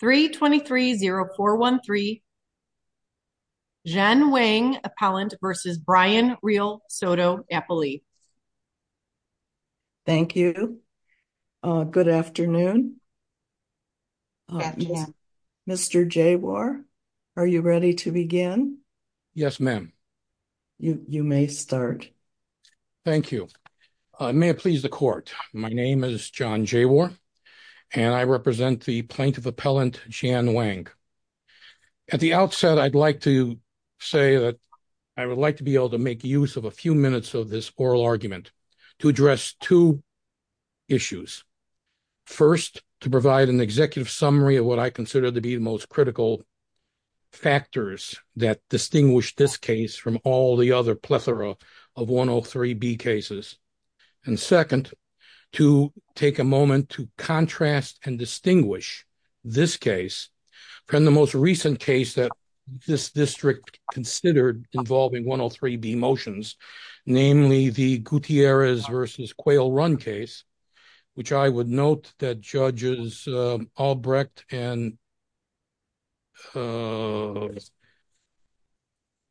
3 23 0 4 1 3. Jen Wang Appellant versus Brian Real Soto Appellee. Thank you. Good afternoon. Yeah. Mr J. War. Are you ready to begin? Yes, ma'am. You may start. Thank you. May it please the court. My name is john J. War and I represent the plaintiff appellant Jan Wang. At the outset, I'd like to say that I would like to be able to make use of a few minutes of this oral argument to address two issues. First, to provide an executive summary of what I consider to be the most critical factors that distinguish this case from all the other plethora of 103 B cases. And second, to take a moment to contrast and distinguish this case from the most recent case that this district considered involving 103 B motions, namely the Gutierrez versus quail run case, which I would note that judges Albrecht and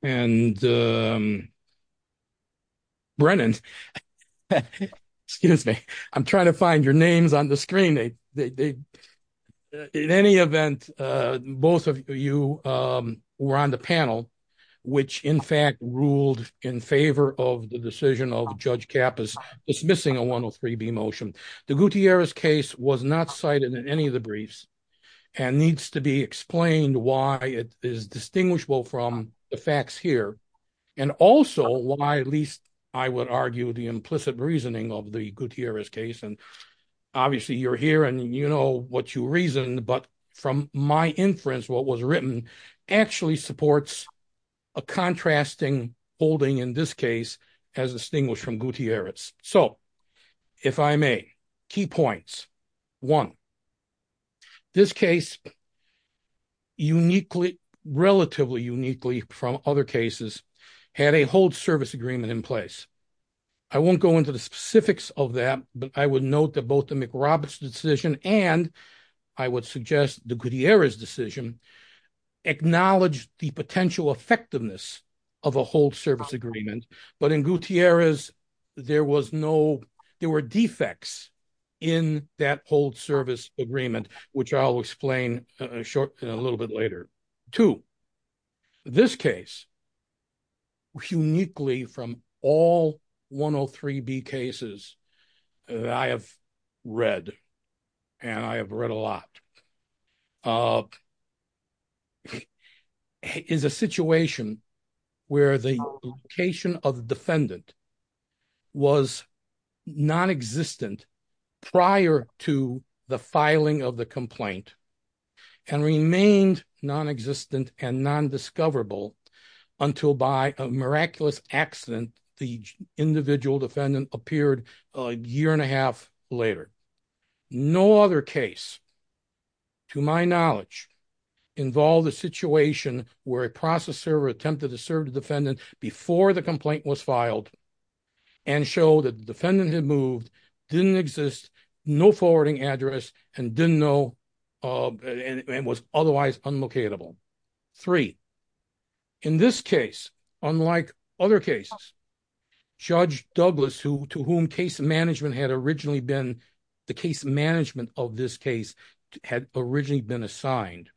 and um Brennan, excuse me, I'm trying to find your names on the screen. They in any event, both of you um were on the panel, which in fact ruled in favor of the decision of judge cap is dismissing a 103 B motion. The Gutierrez case was not cited in any of the briefs and needs to be explained why it is distinguishable from the facts here and also why at least I would argue the implicit reasoning of the Gutierrez case. And obviously you're here and you know what you reason. But from my inference, what was written actually supports a contrasting holding in this case has distinguished from Gutierrez. So if I may, key points. One, this case uniquely, relatively uniquely from other cases had a whole service agreement in place. I won't go into the specifics of that, but I would note that both the McRoberts decision and I would suggest the Gutierrez decision acknowledge the potential effectiveness of a whole service agreement. But in Gutierrez, there was no, there were defects in that whole service agreement, which I'll explain shortly a little bit later to this case uniquely from all 103 B cases that I have read and I have read a lot is a situation where the location of defendant was non-existent prior to the filing of the complaint and remained non-existent and non-discoverable until by a miraculous accident the individual defendant appeared a year and a half later. No other case to my knowledge involved a situation where a process server attempted to serve the defendant before the complaint was filed and show that the defendant had moved, didn't exist, no forwarding address, and didn't know and was otherwise unlocatable. Three, in this case, unlike other cases, Judge Douglas, to whom case management had originally been, the case management of this case had originally been assigned,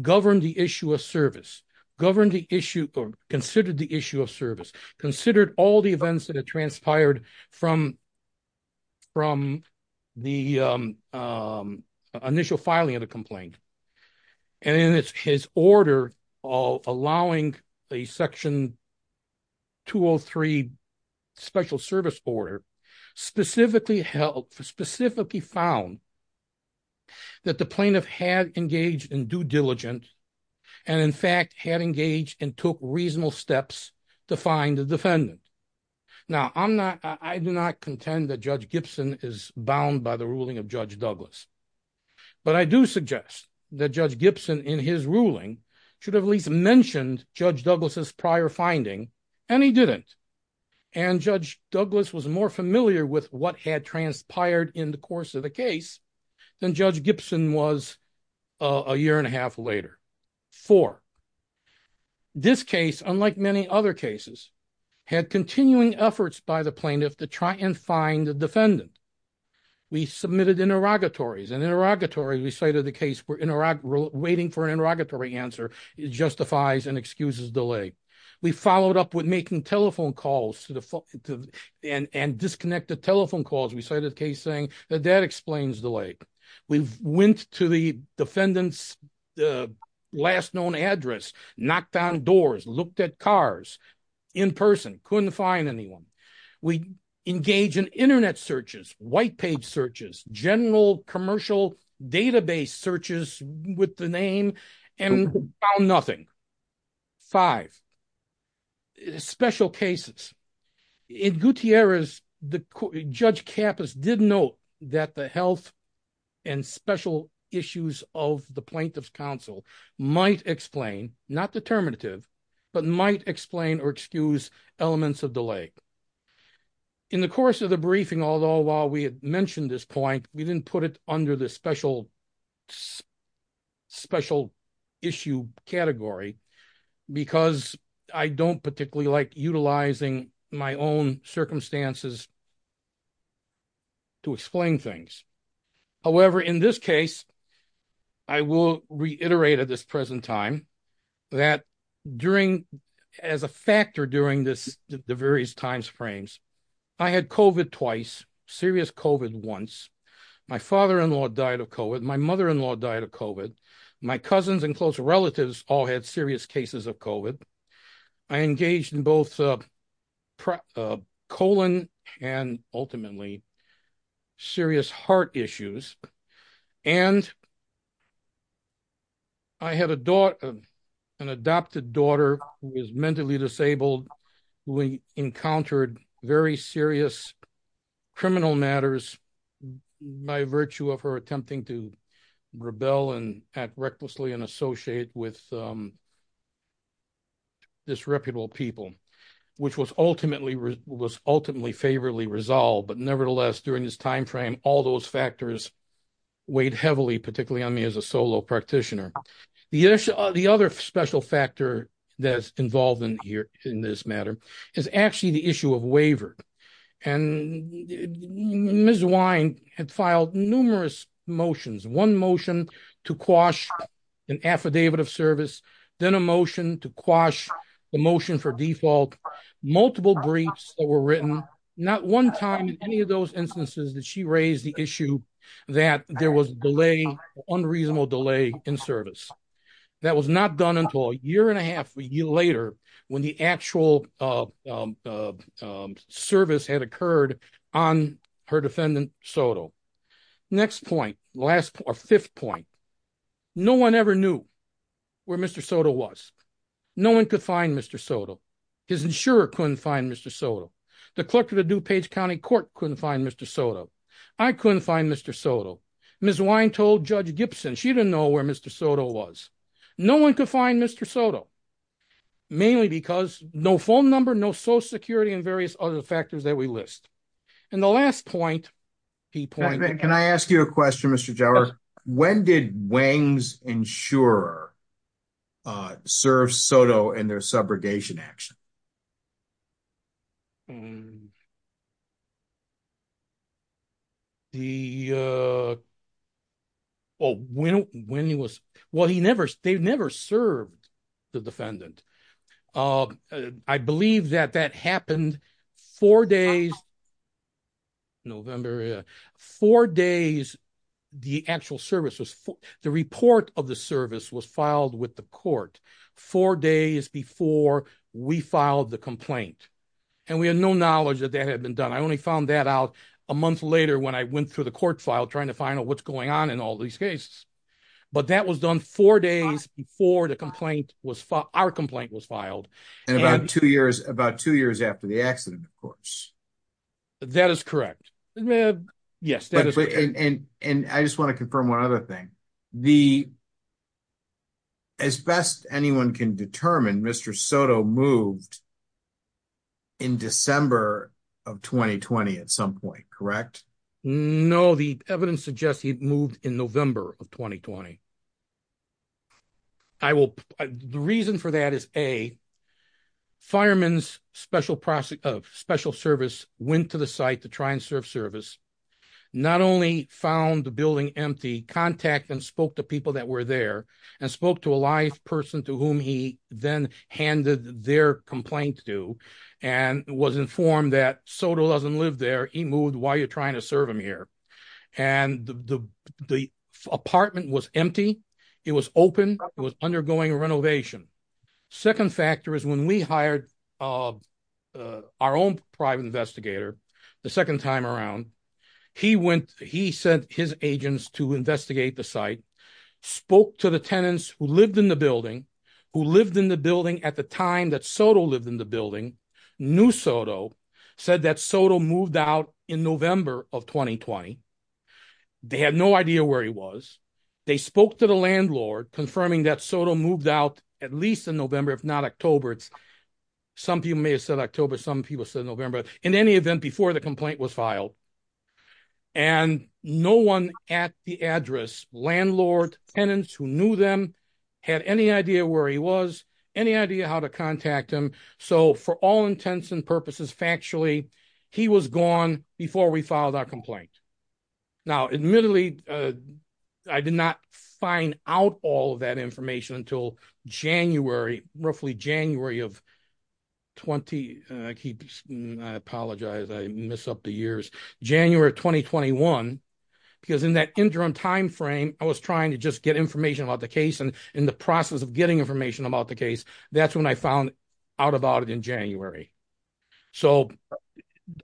governed the issue of service, governed the issue or considered the issue of service, considered all the events that transpired from the initial filing of the complaint, and in his order of allowing a section 203 special service order specifically held, specifically found that the plaintiff had engaged in due diligence and in fact had engaged and took reasonable steps to find the defendant. Now I'm not, I do not contend that Judge Gibson is bound by the ruling of Judge Douglas. His ruling should have at least mentioned Judge Douglas's prior finding and he didn't. And Judge Douglas was more familiar with what had transpired in the course of the case than Judge Gibson was a year and a half later. Four, this case, unlike many other cases, had continuing efforts by the plaintiff to try and find the defendant. We submitted interrogatories and interrogatory, we cited the case, we're waiting for an interrogatory answer. It justifies and excuses delay. We followed up with making telephone calls to the phone and disconnected telephone calls. We cited a case saying that that explains delay. We went to the defendant's last known address, knocked down doors, looked at cars in person, couldn't find anyone. We engaged in internet searches, white page searches, general commercial database searches with the name and found nothing. Five, special cases. In Gutierrez, Judge Kappas did note that the health and special issues of the plaintiff's counsel might explain, not determinative, but might explain or excuse elements of the case. In the course of the briefing, although while we had mentioned this point, we didn't put it under the special issue category because I don't particularly like utilizing my own circumstances to explain things. However, in this case, I will reiterate at this present time that during, as a factor during this, the various time frames, I had COVID twice, serious COVID once, my father-in-law died of COVID, my mother-in-law died of COVID, my cousins and close relatives all had serious cases of COVID. I engaged in both colon and ultimately serious heart issues and I had an adopted daughter who was mentally disabled. We encountered very serious criminal matters by virtue of her attempting to rebel and act recklessly and associate with disreputable people, which was ultimately favorably resolved. But nevertheless, during this time frame, all those factors weighed heavily particularly on me as a solo practitioner. The other special factor that's involved in here in this matter is actually the issue of waiver. And Ms. Wine had filed numerous motions, one motion to quash an affidavit of service, then a motion to quash the motion for default, multiple briefs that were written, not one time in any of those instances that she raised the issue that there was delay, unreasonable delay in service. That was not done until a year and a half, a year later, when the actual service had occurred on her defendant Soto. Next point, last or fifth point, no one ever knew where Mr. Soto was. No one could find Mr. Soto. His insurer couldn't find Mr. Soto. The clerk of the DuPage County Court couldn't find Mr. Soto. I couldn't find Mr. Soto. Ms. Wine told Judge Gibson she didn't know where Mr. Soto was. No one could find Mr. Soto, mainly because no phone number, no social security, and various other factors that we list. And the last point, can I ask you a question, Mr. Jauer? When did Wang's insurer serve Soto in their subrogation action? Oh, when he was, well he never, they never served the defendant. I believe that that happened four days, November, four days the actual service was, the report of the service was filed with the court four days before we filed the complaint. And we had no knowledge that that had been done. I only found that out a month later when I went through the court file trying to find out what's going on in all these cases. But that was done four days before the complaint was filed, our complaint was filed. And about two years, about two years after the accident, of course. That is correct. Yes. And I just want to confirm one other thing. The, as best anyone can determine, Mr. Soto moved in December of 2020 at some point, correct? No, the evidence suggests he moved in November of 2020. I will, the reason for that is, A, fireman's special process, of special service went to the site to try and serve service. Not only found the building empty, contact and spoke to people that were there and spoke to a live person to whom he then handed their complaint to and was informed that Soto doesn't live there. He moved while you're trying to serve him here. And the apartment was empty. It was open, it was undergoing renovation. Second factor is when we hired our own private investigator, the second time around, he went, he sent his agents to investigate the site, spoke to the tenants who lived in the building, who lived in the building at the time that Soto lived in the building, knew Soto, said that Soto moved out in November of 2020. They had no idea where he was. They spoke to the landlord confirming that Soto moved out at least in November, if not October. It's some people may have said October, some people said November in any event before the complaint was filed. And no one at the address, landlord, tenants who knew them, had any idea where he was, any idea how to contact him. So for all intents and purposes, factually, he was gone before we filed our complaint. Now, admittedly, I did not find out all of that information until January, roughly January of 20. I apologize, I miss up the years, January 2021. Because in that interim timeframe, I was trying to just get information about the case. And in the process of getting information about the case, that's when I found out about it in January. So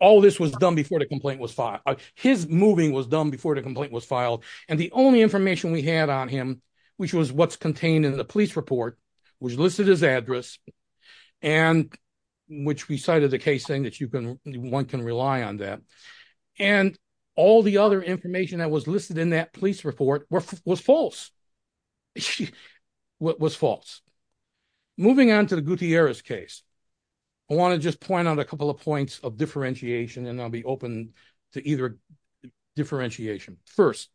all this was done before the complaint was filed. His moving was done before the complaint was filed. And the only information we had on him, which was what's contained in the police report, which listed his address, and which we cited the case saying that you can one can rely on that. And all the other information that was listed in that police report was false. What was false. Moving on to the Gutierrez case, I want to just point out a couple of points of differentiation and I'll be open to either differentiation. First,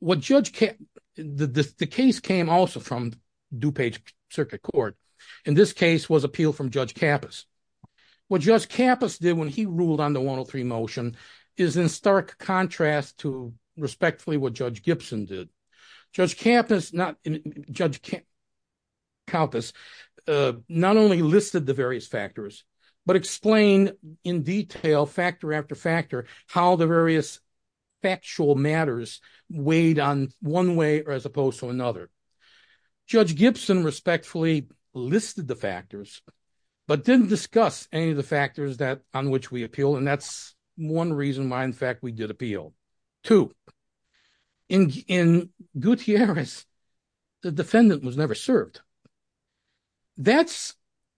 the case came also from DuPage Circuit Court. And this case was appealed from Judge Kappas. What Judge Kappas did when he ruled on the 103 motion is in stark contrast to respectfully what Judge Gibson did. Judge Kappas not only listed the various factors, but explained in detail, factor after factor, how the various factual matters weighed on one way as opposed to another. Judge Gibson respectfully listed the factors, but didn't discuss any of the factors that on which we appeal. And that's one reason why, in fact, we did appeal. Two, in Gutierrez, the defendant was never served. That's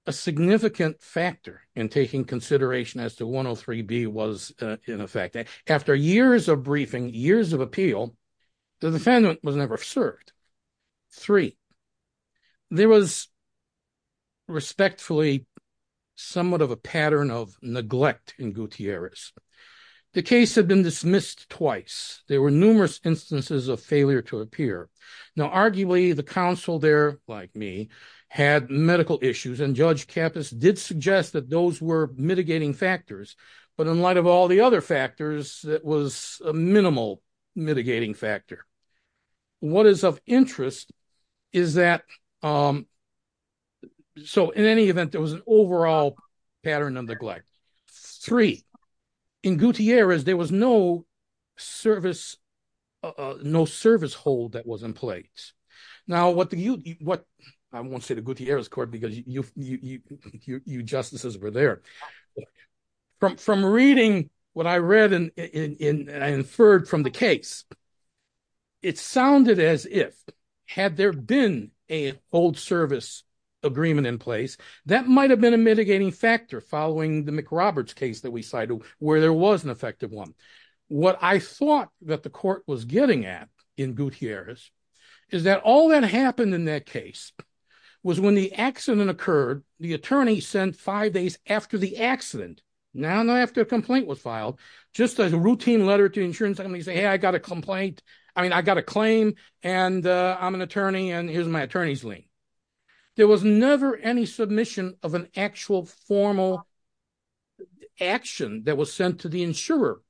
a significant factor in taking consideration as to 103B was in effect. After years of briefing, years of appeal, the defendant was never served. Three, there was respectfully somewhat of a pattern of neglect in Gutierrez. The case had been dismissed twice. There were numerous instances of failure to appear. Now, arguably, the counsel there, like me, had medical issues and Judge Kappas did suggest that those were mitigating factors. But in light of all the other factors, that was a minimal mitigating factor. What is of interest is that, so in any event, there was an overall pattern of neglect. Three, in Gutierrez, there was no service, no service hold that was in place. Now, what do you, what, I won't say the Gutierrez court because you, you justices were there. From reading what I read and inferred from the case, it sounded as if, had there been an old agreement in place, that might have been a mitigating factor following the McRoberts case that we cited, where there was an effective one. What I thought that the court was getting at in Gutierrez is that all that happened in that case was when the accident occurred, the attorney sent five days after the accident, not after a complaint was filed, just a routine letter to insurance company saying, hey, I got a complaint. I mean, I got a complaint. There was never any submission of an actual formal action that was sent to the insurer.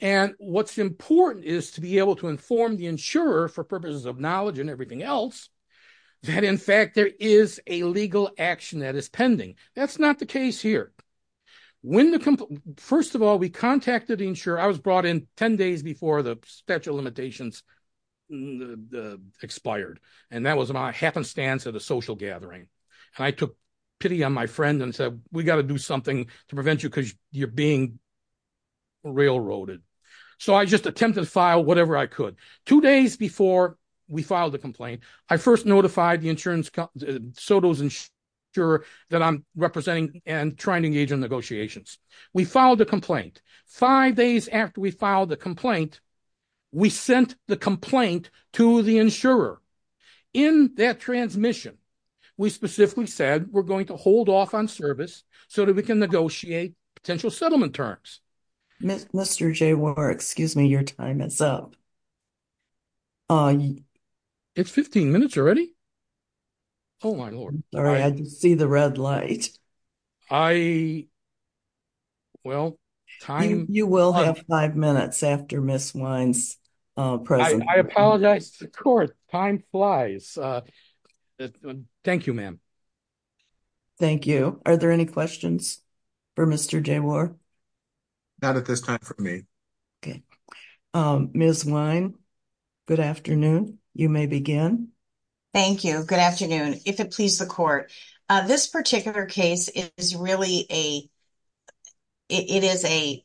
And what's important is to be able to inform the insurer for purposes of knowledge and everything else, that in fact, there is a legal action that is pending. That's not the case here. When the, first of all, we contacted the insurer. I was brought in 10 days before the statute of limitations expired. And that was my happenstance at a social gathering. And I took pity on my friend and said, we got to do something to prevent you because you're being railroaded. So I just attempted to file whatever I could. Two days before we filed the complaint, I first notified the insurance company, Soto's insurer, that I'm representing and trying to engage in negotiations. We filed a complaint. Five days after we filed the complaint, we sent the complaint to the insurer. In that transmission, we specifically said we're going to hold off on service so that we can negotiate potential settlement terms. Mr. J. War, excuse me, your time is up. Uh, it's 15 minutes already. Oh, my Lord. All right. I can see the red light. I, we, well, time. You will have five minutes after Ms. Wine's present. I apologize to the court. Time flies. Uh, thank you, ma'am. Thank you. Are there any questions for Mr. J. War? Not at this time for me. Okay. Um, Ms. Wine, good afternoon. You may begin. Thank you. Good afternoon. If it please the court, this particular case is really a, it is a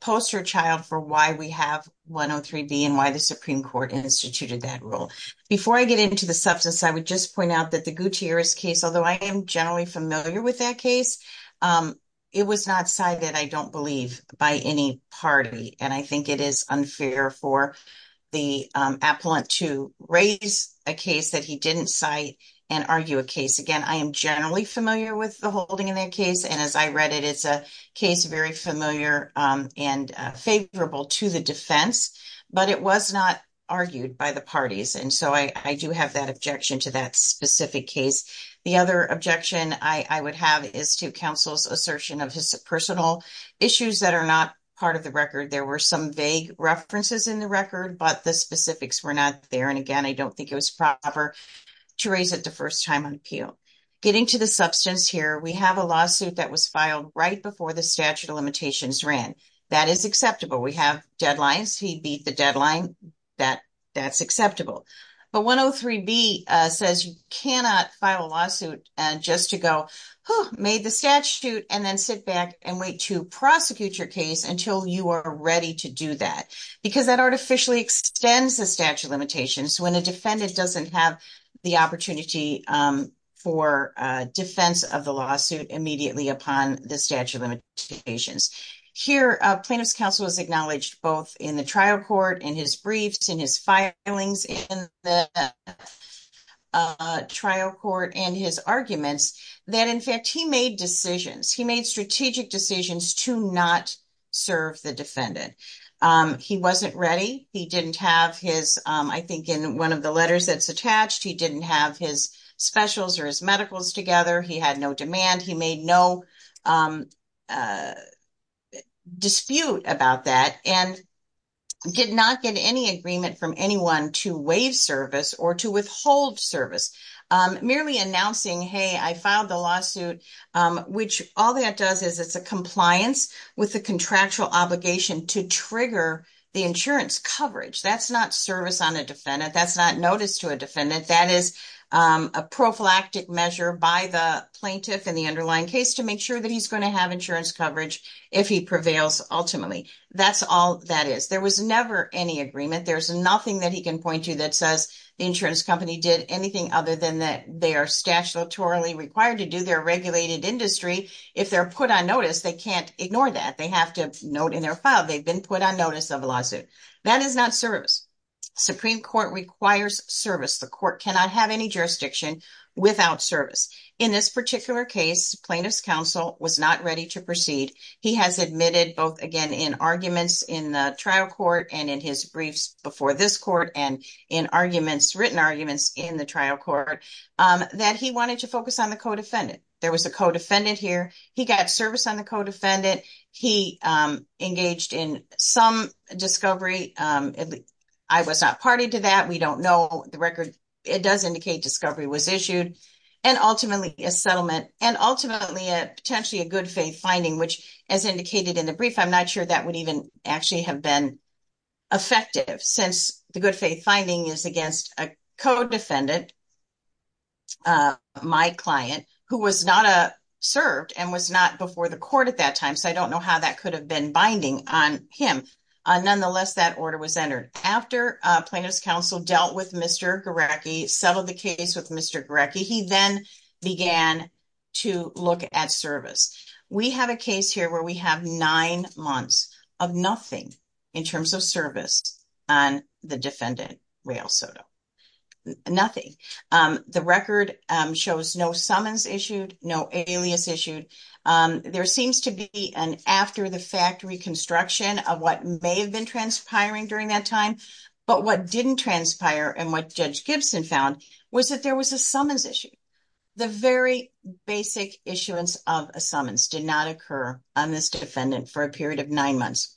poster child for why we have 103 B and why the Supreme Court instituted that rule. Before I get into the substance, I would just point out that the Gutierrez case, although I am generally familiar with that case, um, it was not cited, I don't believe by any party. And I think it is unfair for the appellant to raise a case that he didn't cite and argue a case. Again, I am generally familiar with the holding in that case. And as I read it, it's a case very familiar, um, and favorable to the defense, but it was not argued by the parties. And so I do have that objection to that specific case. The other objection I would have is to counsel's assertion of his personal issues that are not part of the record. There were some vague references in the record, but the specifics were not there. And again, I don't think it was proper to raise it the first time on appeal getting to the substance here. We have a lawsuit that was filed right before the statute of limitations ran. That is acceptable. We have deadlines. He beat the deadline that that's acceptable. But 103 B says you cannot file a lawsuit just to go made the statute and then sit back and wait to prosecute your case until you are ready to do that because that artificially extends the statute of limitations when a defendant doesn't have the opportunity, um, for defense of the lawsuit immediately upon the statute of limitations. Here, plaintiff's counsel is acknowledged both in the trial court and his briefs in his filings in the, uh, trial court and his arguments that in fact he made decisions. He made strategic decisions to not serve the defendant. Um, he wasn't ready. He didn't have his, um, I think in one of the letters that's attached, he didn't have his specials or his medicals together. He had no demand. He made no, um, uh, dispute about that and did not get any agreement from anyone to waive service or to withhold service. Um, merely announcing, Hey, I filed the lawsuit, which all that does is it's a with the contractual obligation to trigger the insurance coverage. That's not service on a defendant. That's not notice to a defendant. That is, um, a prophylactic measure by the plaintiff in the underlying case to make sure that he's going to have insurance coverage if he prevails. Ultimately, that's all that is. There was never any agreement. There's nothing that he can point to that says the insurance company did anything other than that. They are statutorily required to do their regulated industry. If they're put on notice, they can't ignore that. They have to note in their file. They've been put on notice of a lawsuit that is not service. Supreme Court requires service. The court cannot have any jurisdiction without service. In this particular case, plaintiff's counsel was not ready to proceed. He has admitted both again in arguments in the trial court and in his briefs before this court and in arguments, written arguments in the trial court that he wanted to focus on the co defendant. There was a co defendant here. He got service on the co defendant. He, um, engaged in some discovery. Um, I was not party to that. We don't know the record. It does indicate discovery was issued and ultimately a settlement and ultimately potentially a good faith finding, which, as indicated in the brief, I'm not sure that would even actually have been effective since the good faith finding is against a co defendant. Uh, my client who was not a served and was not before the court at that time. So I don't know how that could have been binding on him. Nonetheless, that order was entered after plaintiff's counsel dealt with Mr Garecki settled the case with Mr Garecki. He then began to look at service. We have a case here where we have nine months of nothing in terms of service on the defendant. Rail soda. Nothing. Um, the record shows no summons issued. No alias issued. Um, there seems to be an after the factory construction of what may have been transpiring during that time. But what didn't transpire and what Judge Gibson found was that there was a summons issue. The very basic issuance of a summons did not occur on this defendant for a period of nine months.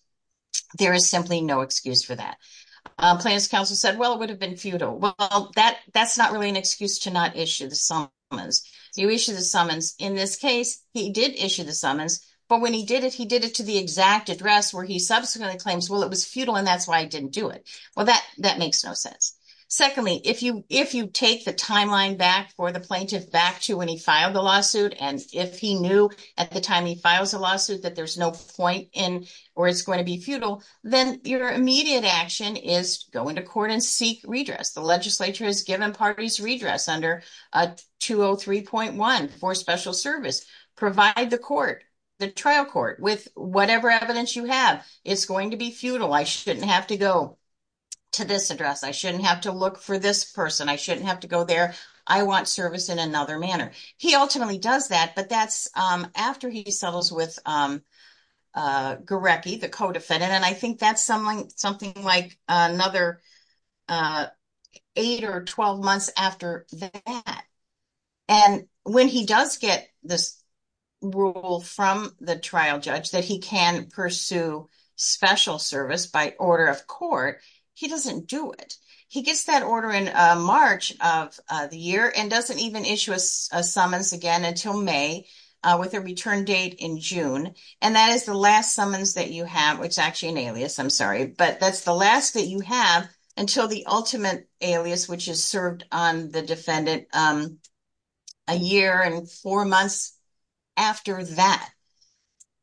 Counsel said, well, it would have been futile. Well, that that's not really an excuse to not issue the summons. You issue the summons. In this case, he did issue the summons. But when he did it, he did it to the exact address where he subsequently claims. Well, it was futile, and that's why I didn't do it. Well, that that makes no sense. Secondly, if you if you take the timeline back for the plaintiff back to when he filed the lawsuit, and if he knew at the time he files a lawsuit that there's no point in or it's going to be futile, then your immediate action is going to court and seek redress. The Legislature has given parties redress under a 203.1 for special service. Provide the court the trial court with whatever evidence you have is going to be futile. I shouldn't have to go to this address. I shouldn't have to look for this person. I shouldn't have to go there. I want service in another manner. He ultimately does that, but that's after he settles with, um, uh, Garecki, the co defendant. And I think that's something something like another, uh, eight or 12 months after that. And when he does get this rule from the trial judge that he can pursue special service by order of court, he doesn't do it. He gets that order in March of the year and doesn't even issue a summons again until May, with their return date in June. And that is the last summons that you have. It's actually an alias. I'm sorry, but that's the last that you have until the ultimate alias, which is served on the defendant. Um, a year and four months after that,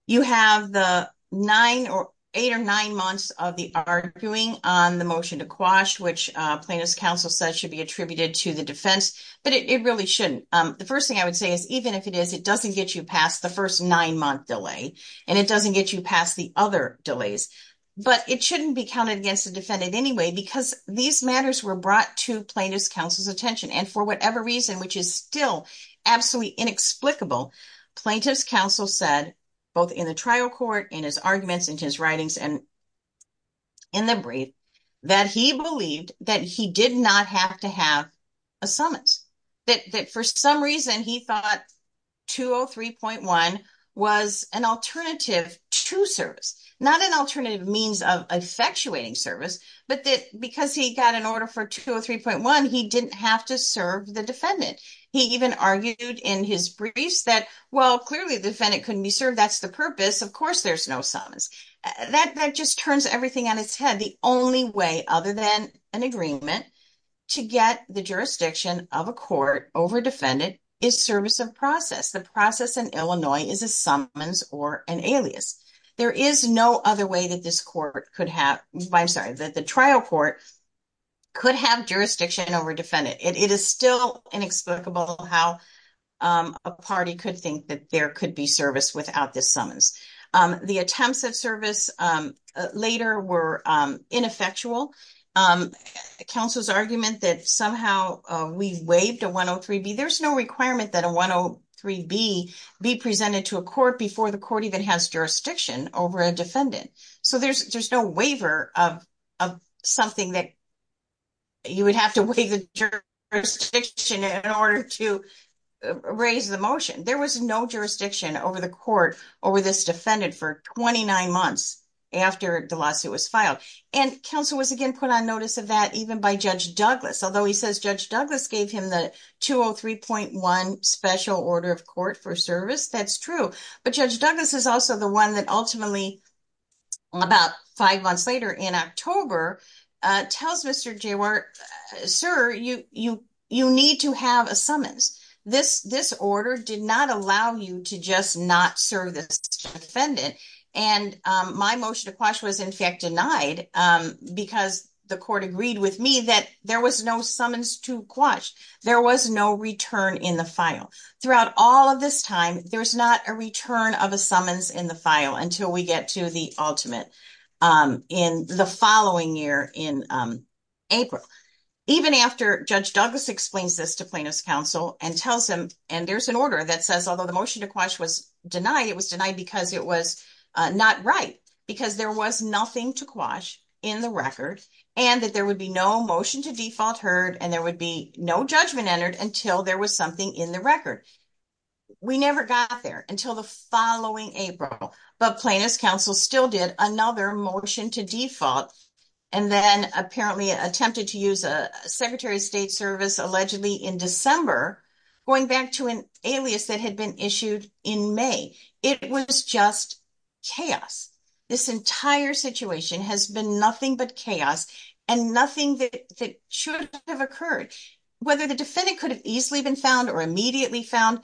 you have the nine or eight or nine months of the arguing on the motion to quash, which plaintiff's counsel said should be attributed to the defense. But it really shouldn't. Um, the first thing I would say is, even if it is, it doesn't get you past the first nine month delay, and it doesn't get you past the other delays. But it shouldn't be counted against the defendant anyway, because these matters were brought to plaintiff's counsel's attention. And for whatever reason, which is still absolutely inexplicable, plaintiff's counsel said, both in the trial court, in his arguments, in his writings and in the brief, that he believed that he did not have to have a summons, that for some reason he thought 203.1 was an alternative to service, not an alternative means of effectuating service, but that because he got an order for 203.1, he didn't have to serve the defendant. He even argued in his briefs that, well, clearly the defendant couldn't be served. That's the purpose. Of course, there's no summons. That just turns everything on its head. The only way other than an agreement to get the jurisdiction of a court over defendant is service of process. The process in Illinois is a summons or an alias. There is no other way that this court could have, I'm sorry, that the trial court could have jurisdiction over defendant. It is still inexplicable how a party could think that there could be service without this summons. The attempts of service later were ineffectual. Counsel's argument that somehow we waived a 103B, there's no requirement that a 103B be presented to a court before the court even has jurisdiction over a defendant. So there's no waiver of something that you would have to waive the jurisdiction in order to raise the motion. There was no jurisdiction over the court over this defendant for 29 months after the lawsuit was filed. And counsel was again put on notice of that even by Judge Douglas. Although he says Judge Douglas gave him the 203.1 special order of court for service. That's true. But Judge Douglas is also the one that ultimately, about five months later in October, tells Mr. Jawar, sir, you need to have a summons. This order did not allow you to just not serve this defendant. And my motion to quash was in fact denied because the court agreed with me that there was no summons to quash. There was no return in the file. Throughout all of this time, there's not a return of a summons in the file until we get to the ultimate in the following year in April. Even after Judge Douglas explains this to plaintiff's counsel and tells him and there's an order that says, although the motion to quash was denied, it was denied because it was not right because there was nothing to quash in the record and that there would be no motion to default heard and there would be no judgment entered until there was something in the record. We never got there until the following April, but plaintiff's counsel still did another motion to default and then apparently attempted to use a secretary of state service, allegedly in December, going back to an alias that had been issued in May. It was just chaos. This entire situation has been nothing but chaos and nothing that should have occurred. Whether the defendant could have easily been found or immediately found,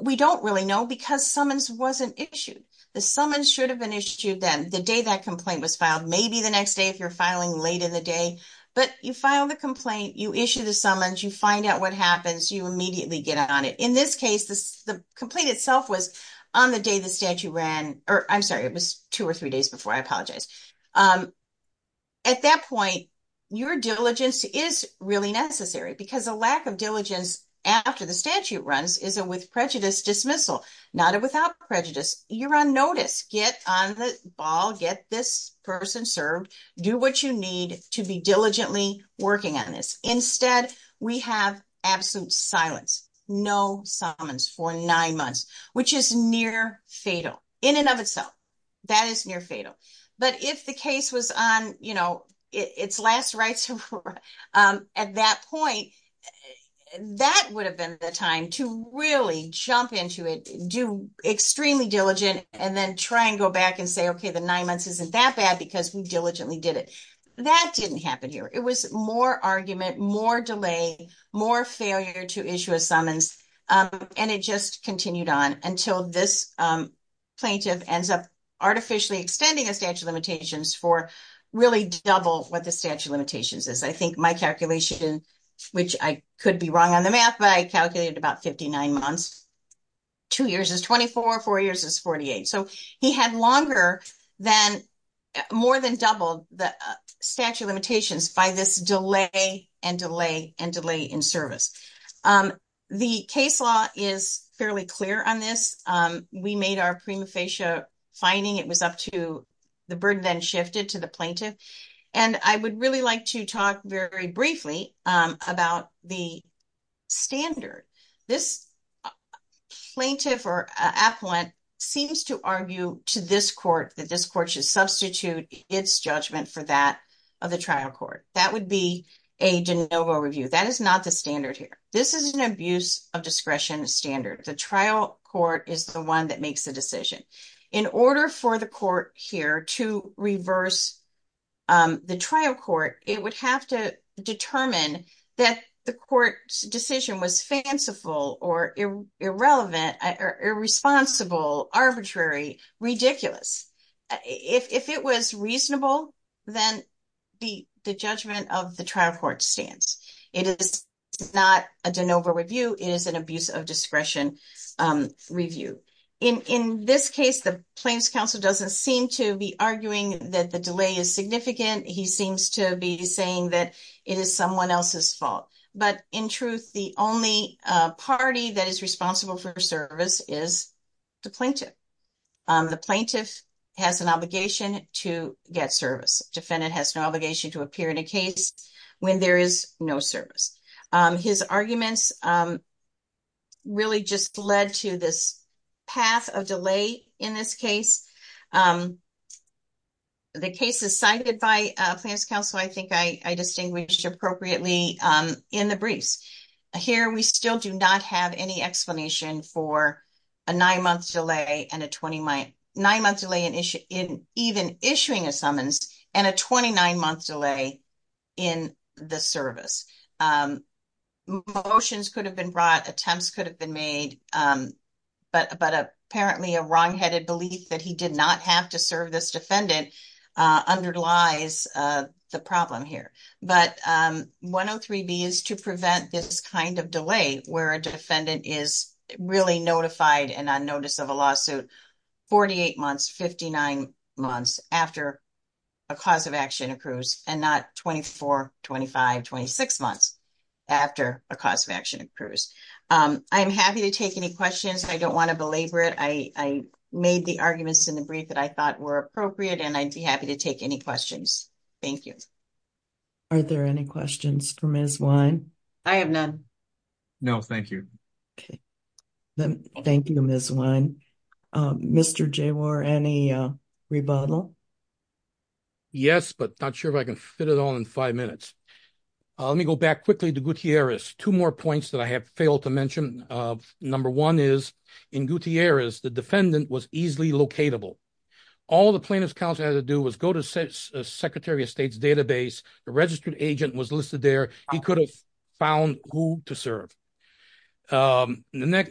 we don't really know because summons wasn't issued. The summons should have been issued then, the day that complaint was filed, maybe the next day if you're filing late in the day, but you file the complaint, you issue the summons, you find out what happens, you immediately get on it. In this case, the complaint itself was on the day the statute ran, or I'm sorry, it was two or three days before, I apologize. At that point, your diligence is really necessary because a lack of diligence after the statute runs is a prejudice dismissal, not a without prejudice. You're on notice, get on the ball, get this person served, do what you need to be diligently working on this. Instead, we have absolute silence, no summons for nine months, which is near fatal in and of itself. That is near fatal. But if the case was on, you know, its last rights, at that point, that would have been the time to really jump into it, do extremely diligent, and then try and go back and say, okay, the nine months isn't that bad, because we diligently did it. That didn't happen here. It was more argument, more delay, more failure to issue a summons. And it just continued on until this plaintiff ends up artificially extending a statute of limitations for really double what the statute of limitations is. I think my calculation, which I could be wrong on the math, but I calculated about 59 months, two years is 24, four years is 48. So he had longer than, more than doubled the statute of limitations by this delay, and delay, and delay in service. The case law is fairly clear on this. We made our prima facie fining, it then shifted to the plaintiff. And I would really like to talk very briefly about the standard. This plaintiff or appellant seems to argue to this court that this court should substitute its judgment for that of the trial court. That would be a de novo review. That is not the standard here. This is an abuse of discretion standard. The trial court is the one that makes the decision. In reverse, the trial court, it would have to determine that the court's decision was fanciful or irrelevant, irresponsible, arbitrary, ridiculous. If it was reasonable, then the judgment of the trial court stands. It is not a de novo review, it is an abuse of discretion review. In this case, the plaintiff's arguing that the delay is significant. He seems to be saying that it is someone else's fault. But in truth, the only party that is responsible for service is the plaintiff. The plaintiff has an obligation to get service. Defendant has no obligation to appear in a case when there is no service. His arguments really just led to this path of delay in this case. The case is cited by plaintiff's counsel. I think I distinguished appropriately in the briefs. Here, we still do not have any explanation for a nine-month delay in even issuing a summons and a 29-month delay in the service. Motions could have been brought, attempts could have been made, but apparently a wrongheaded belief that he did not have to serve this defendant underlies the problem here. But 103B is to prevent this kind of delay where a defendant is really notified and on notice of a lawsuit 48 months, 59 months after a cause of action accrues and not 24, 25, 26 months after a cause of action accrues. I am happy to take any questions. I do not want to belabor it. I made the arguments in the brief that I thought were appropriate, and I would be happy to take any questions. Thank you. Are there any questions for Ms. Wine? I have none. No, thank you. Thank you, Ms. Wine. Mr. Jawar, any rebuttal? Yes, but not sure if I can fit it all in five minutes. Let me go back quickly to Gutierrez. Two more points that I have failed to mention. Number one is, in Gutierrez, the defendant was easily locatable. All the plaintiff's counsel had to do was go to Secretary of State's database, the registered agent was listed there, he could have found who to serve. The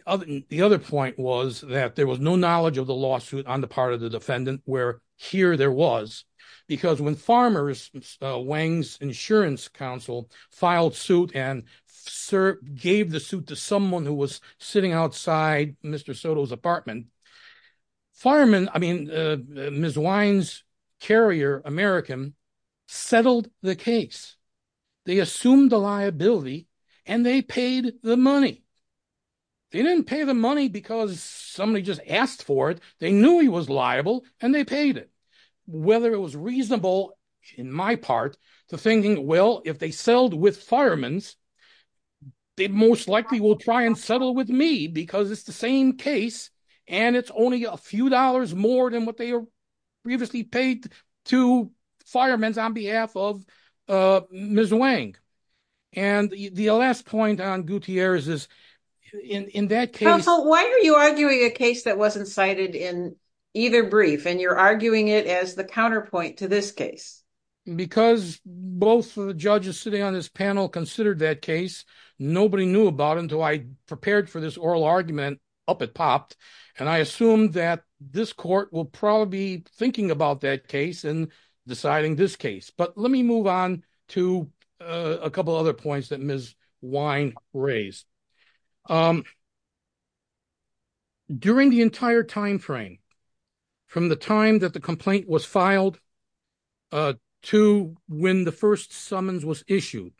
other point was that there was no knowledge of the lawsuit on the part of the defendant where here there was, because when farmers, Wang's insurance counsel, filed suit and gave the suit to someone who was sitting outside Mr. Soto's apartment, fireman, I mean, Ms. Wine's carrier, American, settled the case. They assumed the liability, and they paid the money. They didn't pay the money because somebody just asked for it. They knew he was liable, and they paid it. Whether it was reasonable, in my part, to thinking, well, if they settled with firemen's, they most likely will try and settle with me because it's the same case, and it's only a few dollars more than what they previously paid to firemen's on behalf of Ms. Wang. And the last point on Gutierrez is, in that case... Counsel, why are you arguing a case that wasn't cited in either brief, and you're arguing it as the counterpoint to this case? Because both of the judges sitting on this panel considered that case, nobody knew about until I prepared for this oral argument, up it popped, and I assumed that this court will probably be thinking about that case and deciding this case. But let me move on to a couple other points that Ms. Wine raised. During the entire time frame, from the time that the complaint was filed to when the first summons was issued,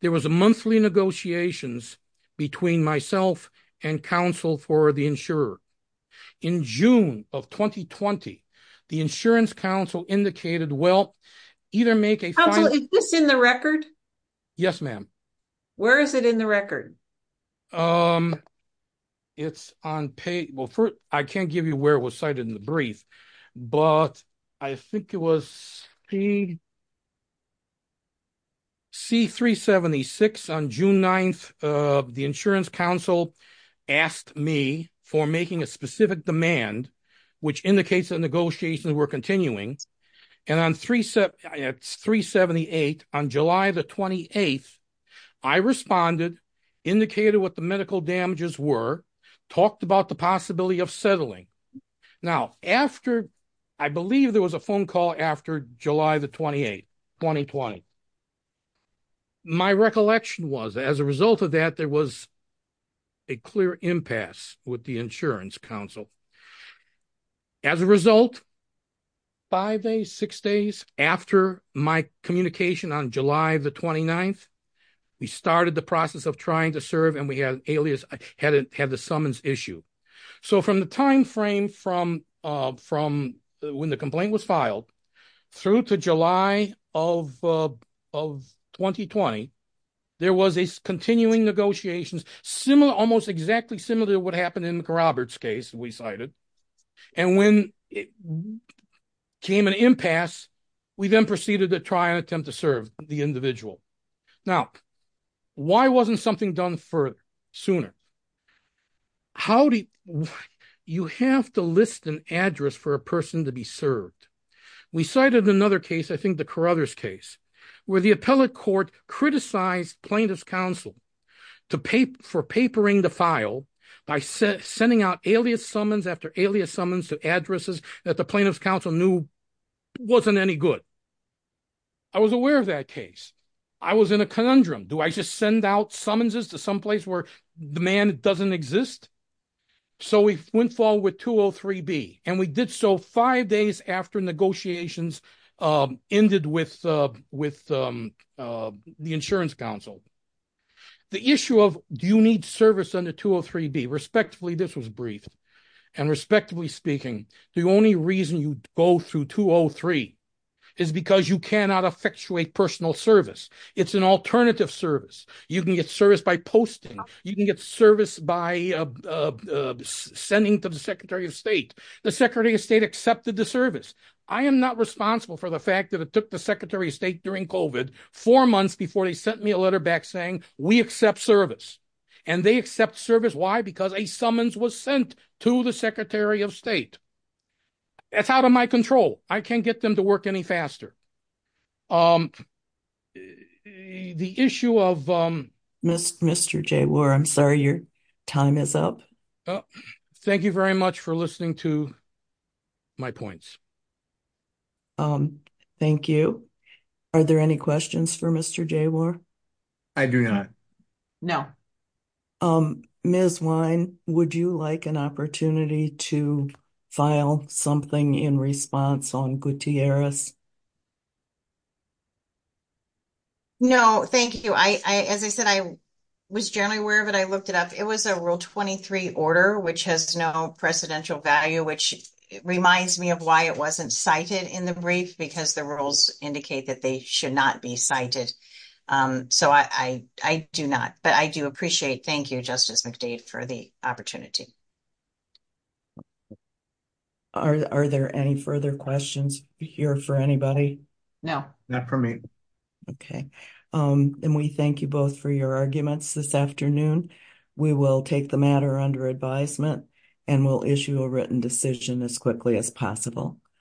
there was a monthly negotiations between myself and counsel for the insurer. In June of 2020, the insurance counsel indicated, well, either make a final... Counsel, is this in the record? Yes, ma'am. Where is it in the record? It's on page... Well, first, I can't give you where it was cited in the brief, but I think it was the... C-376 on June 9th, the insurance counsel asked me for making a specific demand, which indicates that negotiations were continuing. And on 378, on July the 28th, I responded, indicated what the medical damages were, talked about the possibility of settling. Now, after... I believe there was a phone call after July the 28th, 2020. My recollection was, as a result of that, there was a clear impasse with the insurance counsel. As a result, five days, six days after my communication on July the 29th, we started the process of trying to serve and we had alias... Had the summons issue. So from the timeframe from when the complaint was filed through to July of 2020, there was a continuing negotiations, similar, almost exactly similar to what happened in McRoberts' case, we cited. And when it came an impasse, we then proceeded to try and attempt to serve the individual. Now, why wasn't something done further, sooner? How do... You have to list an address for a person to be served. We cited another case, I think the Carruthers case, where the appellate court criticized plaintiff's counsel for papering the file by sending out alias summons after alias summons to addresses that the plaintiff's counsel knew wasn't any good. I was aware of that case. I was in a conundrum. Do I just send out summonses to someplace where the man doesn't exist? So we went forward with 203B and we did so five days after negotiations ended with the insurance counsel. The issue of, do you need service under 203B, respectively, this was briefed. And respectively speaking, the only reason you go through 203 is because you cannot effectuate personal service. It's an alternative service. You can get service by posting, you can get service by sending to the secretary of state. The secretary of state accepted the service. I am not responsible for the fact that it took the secretary of state during COVID four months before they sent me a letter back saying, we accept service. And they accept service, why? Because a summons was sent to the secretary of state. That's out of my control. I can't get them to work any faster. The issue of- Mr. Jaywar, I'm sorry, your time is up. Thank you very much for listening to my points. Thank you. Are there any questions for Mr. Jaywar? I do not. No. Ms. Wine, would you like an opportunity to file something in response on Gutierrez? No, thank you. As I said, I was generally aware of it. I looked it up. It was a rule 23 order, which has no precedential value, which reminds me of why it wasn't cited in the brief, because the rules indicate that they should not be cited. So I do not. But I do appreciate. Thank you, Justice McDade, for the opportunity. Are there any further questions here for anybody? No, not for me. Okay. And we thank you both for your arguments this afternoon. We will take the matter under advisement, and we'll issue a written decision as quickly as possible.